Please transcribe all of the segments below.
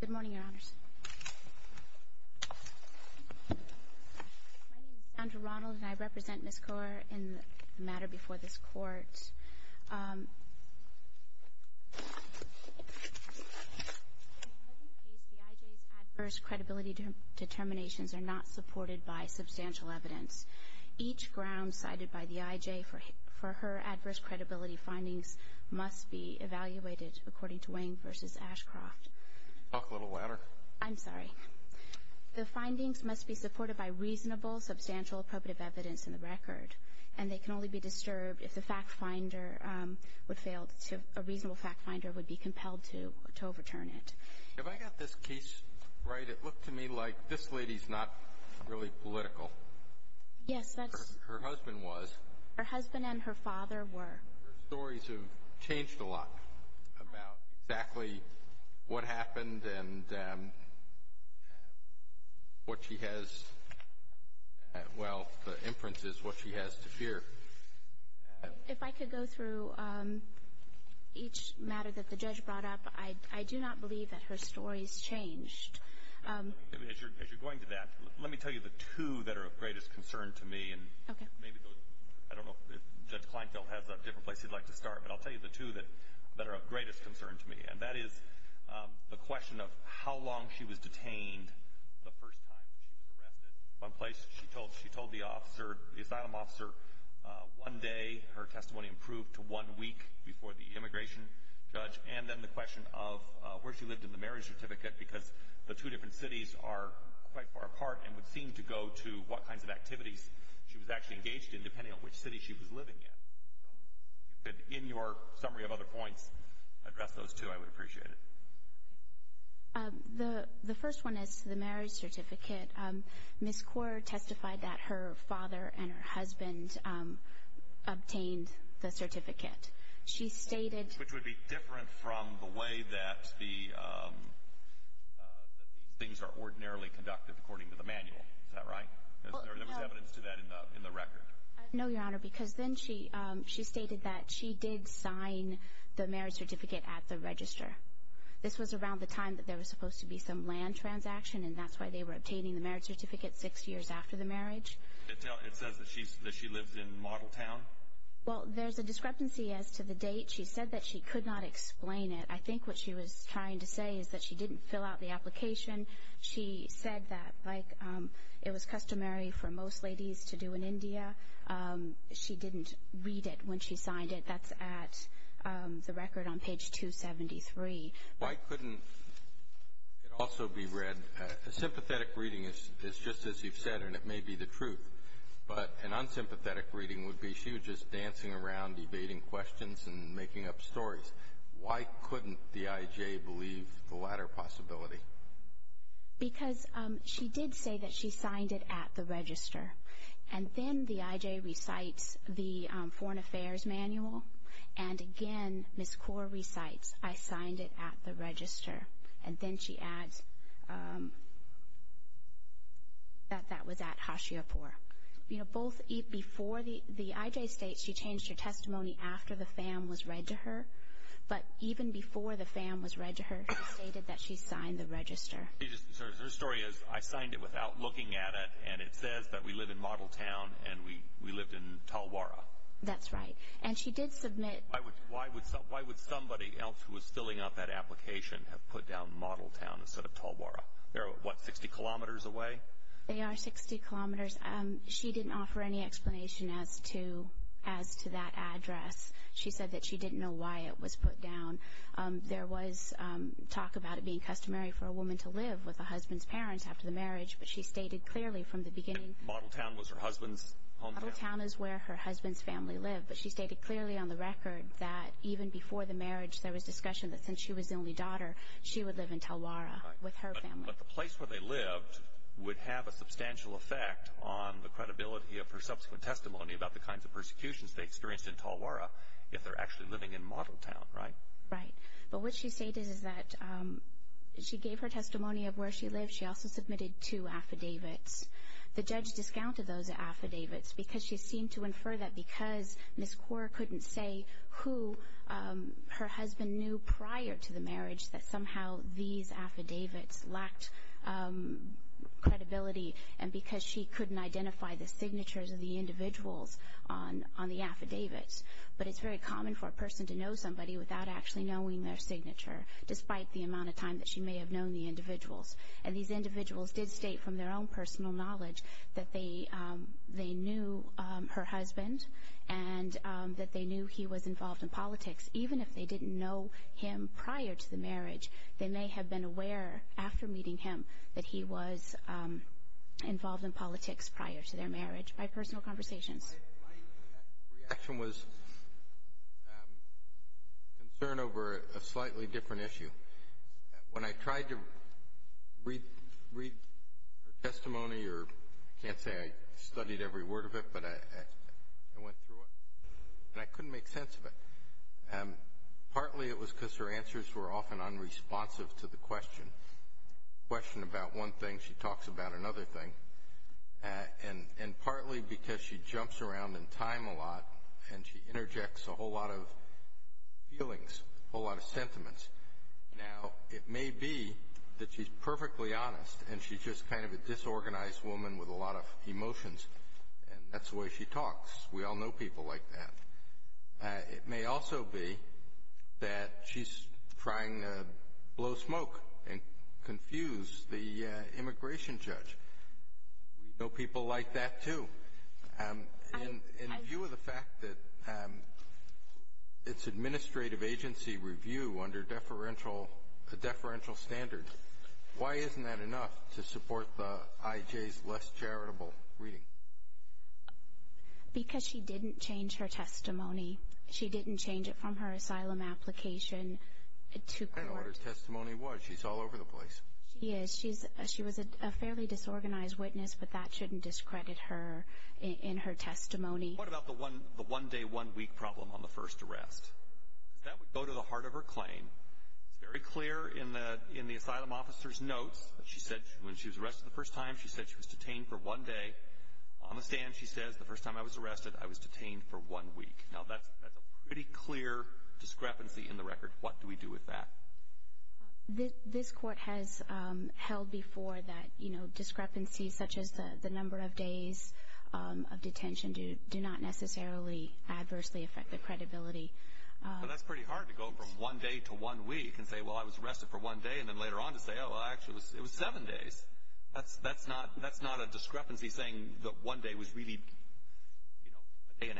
Good morning, Your Honors. My name is Sandra Ronald, and I represent Ms. Kaur in the matter before this Court. In this case, the I.J.'s adverse credibility determinations are not supported by substantial evidence. Each ground cited by the I.J. for her adverse credibility findings must be evaluated according to Wayne v. Ashcroft. Talk a little louder. I'm sorry. The findings must be supported by reasonable, substantial, appropriate evidence in the record, and they can only be disturbed if a reasonable fact finder would be compelled to overturn it. If I got this case right, it looked to me like this lady's not really political. Yes, that's – Her husband was. Her husband and her father were. Her stories have changed a lot about exactly what happened and what she has – well, the inference is what she has to fear. If I could go through each matter that the judge brought up, I do not believe that her stories changed. As you're going through that, let me tell you the two that are of greatest concern to me. Okay. I don't know if Judge Kleinfeld has a different place he'd like to start, but I'll tell you the two that are of greatest concern to me, and that is the question of how long she was detained the first time she was arrested. She told the officer, the asylum officer, one day her testimony improved to one week before the immigration judge, and then the question of where she lived in the marriage certificate, because the two different cities are quite far apart and would seem to go to what kinds of activities she was actually engaged in, depending on which city she was living in. If you could, in your summary of other points, address those two, I would appreciate it. The first one is the marriage certificate. Ms. Kaur testified that her father and her husband obtained the certificate. She stated – Which would be different from the way that these things are ordinarily conducted according to the manual. Is that right? There was evidence to that in the record. No, Your Honor, because then she stated that she did sign the marriage certificate at the register. This was around the time that there was supposed to be some land transaction, and that's why they were obtaining the marriage certificate six years after the marriage. It says that she lived in Model Town? Well, there's a discrepancy as to the date. She said that she could not explain it. I think what she was trying to say is that she didn't fill out the application. She said that, like, it was customary for most ladies to do in India. She didn't read it when she signed it. That's at the record on page 273. Why couldn't it also be read? A sympathetic reading is just as you've said, and it may be the truth, but an unsympathetic reading would be she was just dancing around debating questions and making up stories. Why couldn't the IJ believe the latter possibility? Because she did say that she signed it at the register, and then the IJ recites the Foreign Affairs Manual, and, again, Ms. Kaur recites, I signed it at the register, and then she adds that that was at Hashiapur. You know, both before the IJ states she changed her testimony after the FAM was read to her, but even before the FAM was read to her, she stated that she signed the register. Her story is I signed it without looking at it, and it says that we live in Model Town, and we lived in Talwara. That's right, and she did submit. Why would somebody else who was filling out that application have put down Model Town instead of Talwara? They're, what, 60 kilometers away? They are 60 kilometers. She didn't offer any explanation as to that address. She said that she didn't know why it was put down. There was talk about it being customary for a woman to live with a husband's parents after the marriage, but she stated clearly from the beginning Model Town was her husband's hometown. Model Town is where her husband's family lived, but she stated clearly on the record that even before the marriage there was discussion that since she was the only daughter, she would live in Talwara with her family. But the place where they lived would have a substantial effect on the credibility of her subsequent testimony about the kinds of persecutions they experienced in Talwara if they're actually living in Model Town, right? Right, but what she stated is that she gave her testimony of where she lived. She also submitted two affidavits. The judge discounted those affidavits because she seemed to infer that because Ms. Kaur couldn't say who her husband knew prior to the marriage, that somehow these affidavits lacked credibility and because she couldn't identify the signatures of the individuals on the affidavits. But it's very common for a person to know somebody without actually knowing their signature, despite the amount of time that she may have known the individuals. And these individuals did state from their own personal knowledge that they knew her husband and that they knew he was involved in politics. Even if they didn't know him prior to the marriage, they may have been aware after meeting him that he was involved in politics prior to their marriage by personal conversations. My reaction was concern over a slightly different issue. When I tried to read her testimony, or I can't say I studied every word of it, but I went through it and I couldn't make sense of it. Partly it was because her answers were often unresponsive to the question. The question about one thing, she talks about another thing. And partly because she jumps around in time a lot and she interjects a whole lot of feelings, a whole lot of sentiments. Now, it may be that she's perfectly honest and she's just kind of a disorganized woman with a lot of emotions. And that's the way she talks. We all know people like that. It may also be that she's trying to blow smoke and confuse the immigration judge. We know people like that, too. In view of the fact that it's administrative agency review under a deferential standard, why isn't that enough to support the IJ's less charitable reading? Because she didn't change her testimony. She didn't change it from her asylum application to court. I don't know what her testimony was. She's all over the place. She is. She was a fairly disorganized witness, but that shouldn't discredit her in her testimony. What about the one-day, one-week problem on the first arrest? That would go to the heart of her claim. It's very clear in the asylum officer's notes. When she was arrested the first time, she said she was detained for one day. On the stand, she says, the first time I was arrested, I was detained for one week. Now, that's a pretty clear discrepancy in the record. What do we do with that? This court has held before that discrepancies such as the number of days of detention do not necessarily adversely affect the credibility. But that's pretty hard to go from one day to one week and say, well, I was arrested for one day, and then later on to say, oh, well, actually it was seven days. That's not a discrepancy saying that one day was really a day and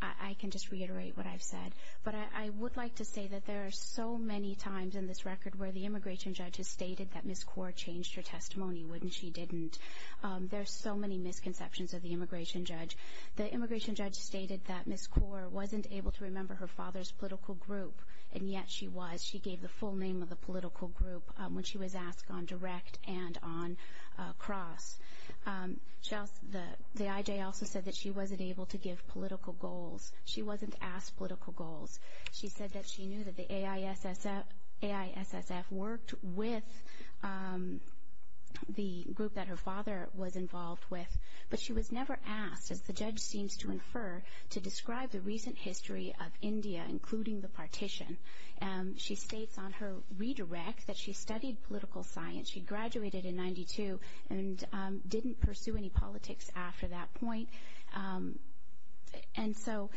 a half. I can just reiterate what I've said. But I would like to say that there are so many times in this record where the immigration judge has stated that Ms. Kaur changed her testimony, wouldn't she, didn't. There are so many misconceptions of the immigration judge. The immigration judge stated that Ms. Kaur wasn't able to remember her father's political group, and yet she was. She gave the full name of the political group when she was asked on direct and on cross. The IJ also said that she wasn't able to give political goals. She wasn't asked political goals. She said that she knew that the AISSF worked with the group that her father was involved with, but she was never asked, as the judge seems to infer, to describe the recent history of India, including the partition. She states on her redirect that she studied political science. She graduated in 92 and didn't pursue any politics after that point. And so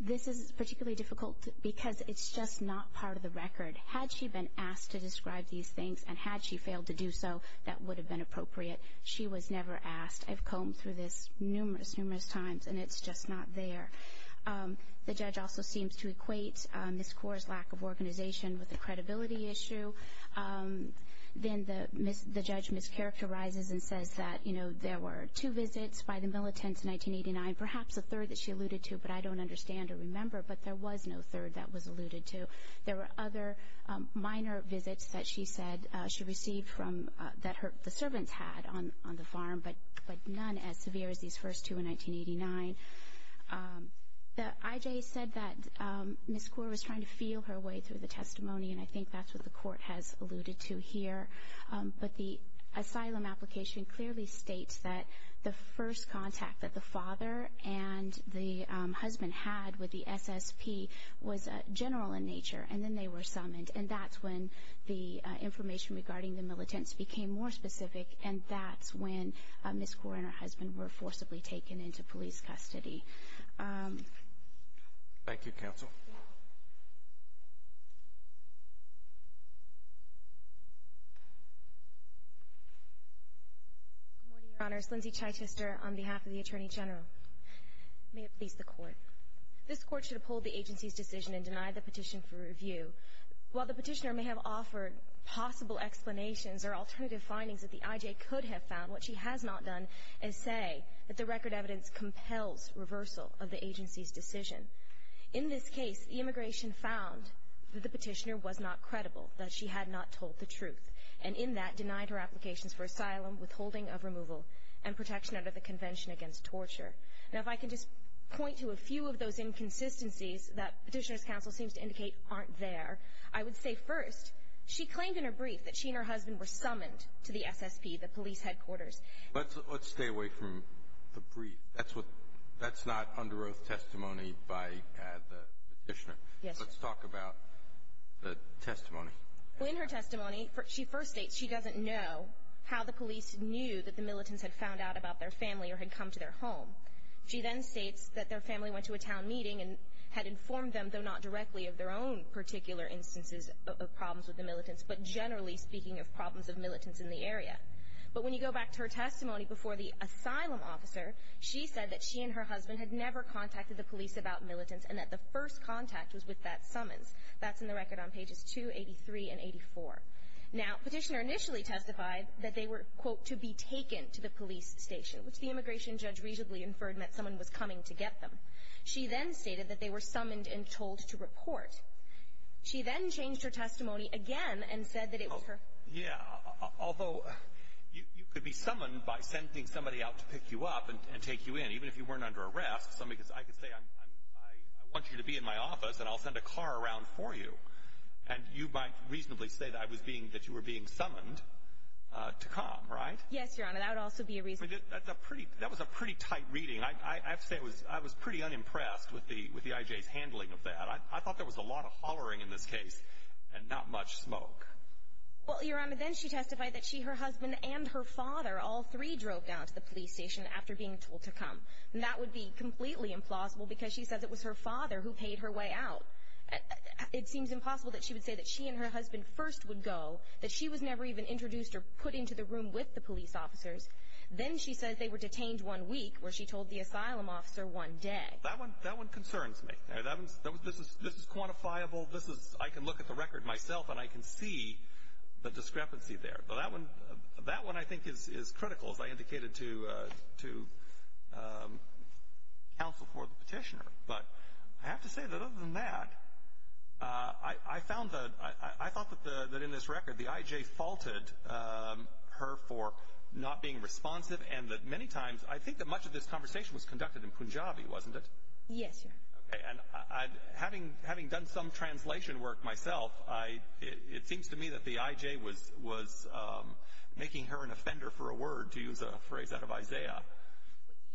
this is particularly difficult because it's just not part of the record. Had she been asked to describe these things and had she failed to do so, that would have been appropriate. She was never asked. I've combed through this numerous, numerous times, and it's just not there. The judge also seems to equate Ms. Kaur's lack of organization with a credibility issue. Then the judge mischaracterizes and says that, you know, there were two visits by the militants in 1989, perhaps a third that she alluded to, but I don't understand or remember, but there was no third that was alluded to. There were other minor visits that she said she received that the servants had on the farm, but none as severe as these first two in 1989. The IJ said that Ms. Kaur was trying to feel her way through the testimony, and I think that's what the court has alluded to here. But the asylum application clearly states that the first contact that the father and the husband had with the SSP was general in nature, and then they were summoned, and that's when the information regarding the militants became more specific, and that's when Ms. Kaur and her husband were forcibly taken into police custody. Thank you, counsel. Good morning, Your Honors. Lindsay Chytister on behalf of the Attorney General. May it please the Court. This Court should uphold the agency's decision and deny the petition for review. While the petitioner may have offered possible explanations or alternative findings that the IJ could have found, what she has not done is say that the record evidence compels reversal of the agency's decision. In this case, the immigration found that the petitioner was not credible, that she had not told the truth, and in that denied her applications for asylum, withholding of removal, and protection under the Convention Against Torture. Now, if I can just point to a few of those inconsistencies that the petitioner's counsel seems to indicate aren't there, I would say first, she claimed in her brief that she and her husband were summoned to the SSP, the police headquarters. Let's stay away from the brief. That's not under oath testimony by the petitioner. Yes, sir. Let's talk about the testimony. In her testimony, she first states she doesn't know how the police knew that the militants had found out about their family or had come to their home. She then states that their family went to a town meeting and had informed them, though not directly, of their own particular instances of problems with the militants, but generally speaking of problems of militants in the area. But when you go back to her testimony before the asylum officer, she said that she and her husband had never contacted the police about militants and that the first contact was with that summons. That's in the record on pages 283 and 84. Now, petitioner initially testified that they were, quote, which the immigration judge reasonably inferred meant someone was coming to get them. She then stated that they were summoned and told to report. She then changed her testimony again and said that it was her. Yeah, although you could be summoned by sending somebody out to pick you up and take you in, even if you weren't under arrest. I could say I want you to be in my office and I'll send a car around for you, and you might reasonably say that you were being summoned to come, right? Yes, Your Honor, that would also be a reason. That was a pretty tight reading. I have to say I was pretty unimpressed with the IJ's handling of that. I thought there was a lot of hollering in this case and not much smoke. Well, Your Honor, then she testified that she, her husband, and her father, all three drove down to the police station after being told to come, and that would be completely implausible because she says it was her father who paid her way out. It seems impossible that she would say that she and her husband first would go, that she was never even introduced or put into the room with the police officers. Then she says they were detained one week, where she told the asylum officer one day. That one concerns me. This is quantifiable. I can look at the record myself, and I can see the discrepancy there. But that one I think is critical, as I indicated to counsel for the petitioner. But I have to say that other than that, I thought that in this record the IJ faulted her for not being responsive and that many times I think that much of this conversation was conducted in Punjabi, wasn't it? Yes, Your Honor. Having done some translation work myself, it seems to me that the IJ was making her an offender for a word, to use a phrase out of Isaiah.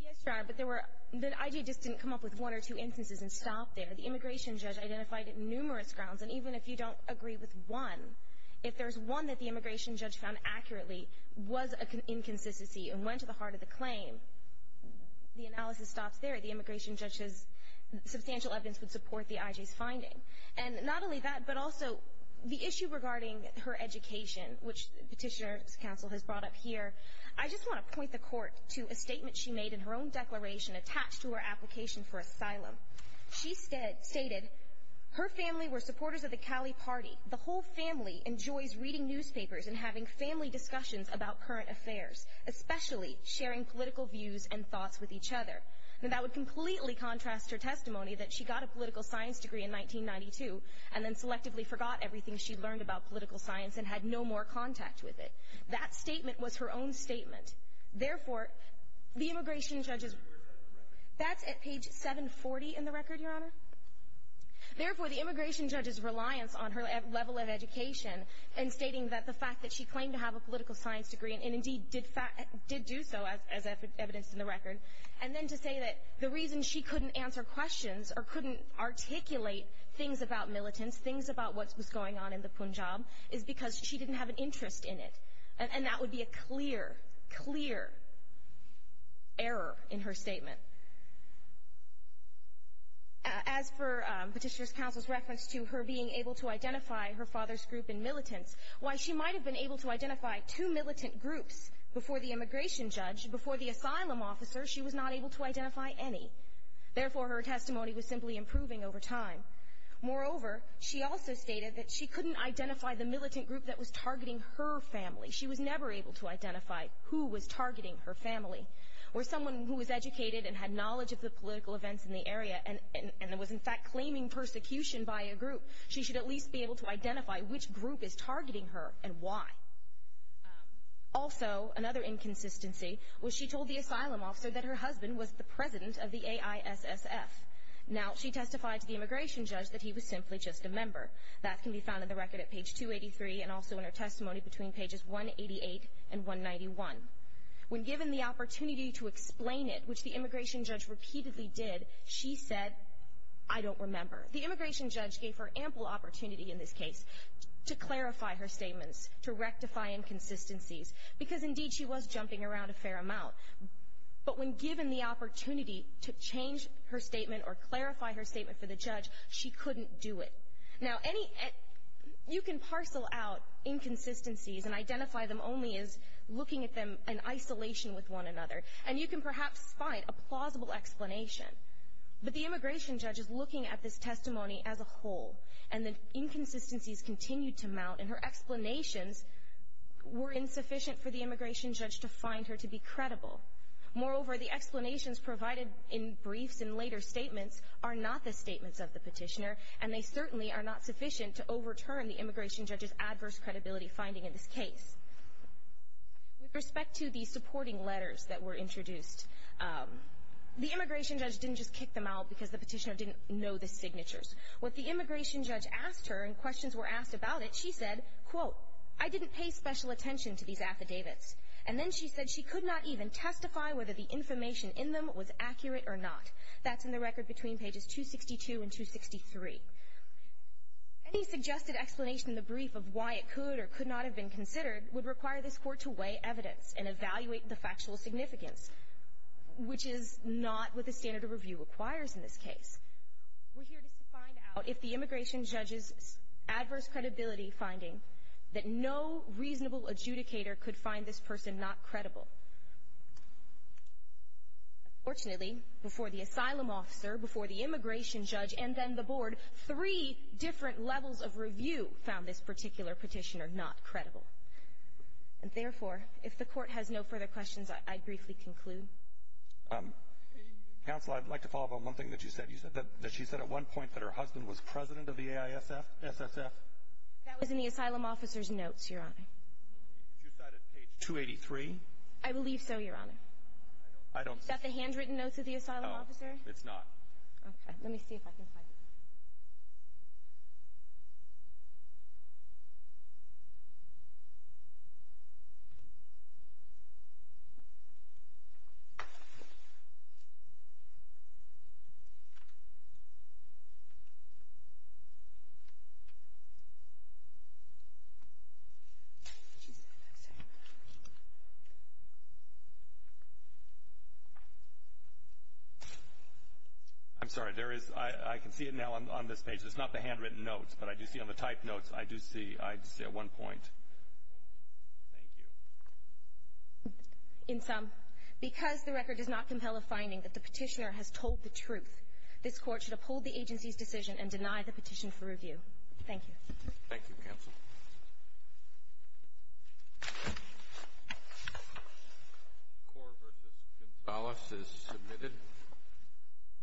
Yes, Your Honor, but the IJ just didn't come up with one or two instances and stop there. The immigration judge identified numerous grounds, and even if you don't agree with one, if there's one that the immigration judge found accurately was an inconsistency and went to the heart of the claim, the analysis stops there. The immigration judge says substantial evidence would support the IJ's finding. And not only that, but also the issue regarding her education, which Petitioner's Counsel has brought up here, I just want to point the court to a statement she made in her own declaration attached to her application for asylum. She stated, her family were supporters of the Cali Party. The whole family enjoys reading newspapers and having family discussions about current affairs, especially sharing political views and thoughts with each other. That would completely contrast her testimony that she got a political science degree in 1992 and then selectively forgot everything she learned about political science and had no more contact with it. That statement was her own statement. Therefore, the immigration judge's — That's at page 740 in the record, Your Honor? Therefore, the immigration judge's reliance on her level of education and stating that the fact that she claimed to have a political science degree, and indeed did do so as evidenced in the record, and then to say that the reason she couldn't answer questions or couldn't articulate things about militants, things about what was going on in the Punjab, is because she didn't have an interest in it. And that would be a clear, clear error in her statement. As for Petitioner's Counsel's reference to her being able to identify her father's group in militants, while she might have been able to identify two militant groups before the immigration judge, before the asylum officer, she was not able to identify any. Therefore, her testimony was simply improving over time. Moreover, she also stated that she couldn't identify the militant group that was targeting her family. She was never able to identify who was targeting her family. For someone who was educated and had knowledge of the political events in the area, and was in fact claiming persecution by a group, she should at least be able to identify which group is targeting her and why. Also, another inconsistency was she told the asylum officer that her husband was the president of the AISSF. Now, she testified to the immigration judge that he was simply just a member. That can be found in the record at page 283 and also in her testimony between pages 188 and 191. When given the opportunity to explain it, which the immigration judge repeatedly did, she said, I don't remember. The immigration judge gave her ample opportunity in this case to clarify her statements, to rectify inconsistencies, because indeed she was jumping around a fair amount. But when given the opportunity to change her statement or clarify her statement for the judge, she couldn't do it. Now, you can parcel out inconsistencies and identify them only as looking at them in isolation with one another, and you can perhaps find a plausible explanation. But the immigration judge is looking at this testimony as a whole, and the inconsistencies continue to mount, and her explanations were insufficient for the immigration judge to find her to be credible. Moreover, the explanations provided in briefs and later statements are not the statements of the petitioner, and they certainly are not sufficient to overturn the immigration judge's adverse credibility finding in this case. With respect to the supporting letters that were introduced, the immigration judge didn't just kick them out because the petitioner didn't know the signatures. What the immigration judge asked her in questions were asked about it, she said, quote, I didn't pay special attention to these affidavits. And then she said she could not even testify whether the information in them was accurate or not. That's in the record between pages 262 and 263. Any suggested explanation in the brief of why it could or could not have been considered would require this Court to weigh evidence and evaluate the factual significance, which is not what the standard of review requires in this case. We're here just to find out if the immigration judge's adverse credibility finding that no reasonable adjudicator could find this person not credible. Unfortunately, before the asylum officer, before the immigration judge, and then the board, three different levels of review found this particular petitioner not credible. And therefore, if the Court has no further questions, I'd briefly conclude. Counsel, I'd like to follow up on one thing that you said. You said that she said at one point that her husband was president of the AISF, SSF. That was in the asylum officer's notes, Your Honor. Did you cite it page 283? I believe so, Your Honor. I don't see it. Is that the handwritten notes of the asylum officer? No, it's not. Okay. Let me see if I can find it. I'm sorry. I can see it now on this page. It's not the handwritten notes, but I do see on the typed notes. I do see at one point. Thank you. In sum, because the record does not compel a finding that the petitioner has told the truth, this Court should uphold the agency's decision and deny the petition for review. Thank you. Thank you, Counsel. Kor v. Gonzales is submitted.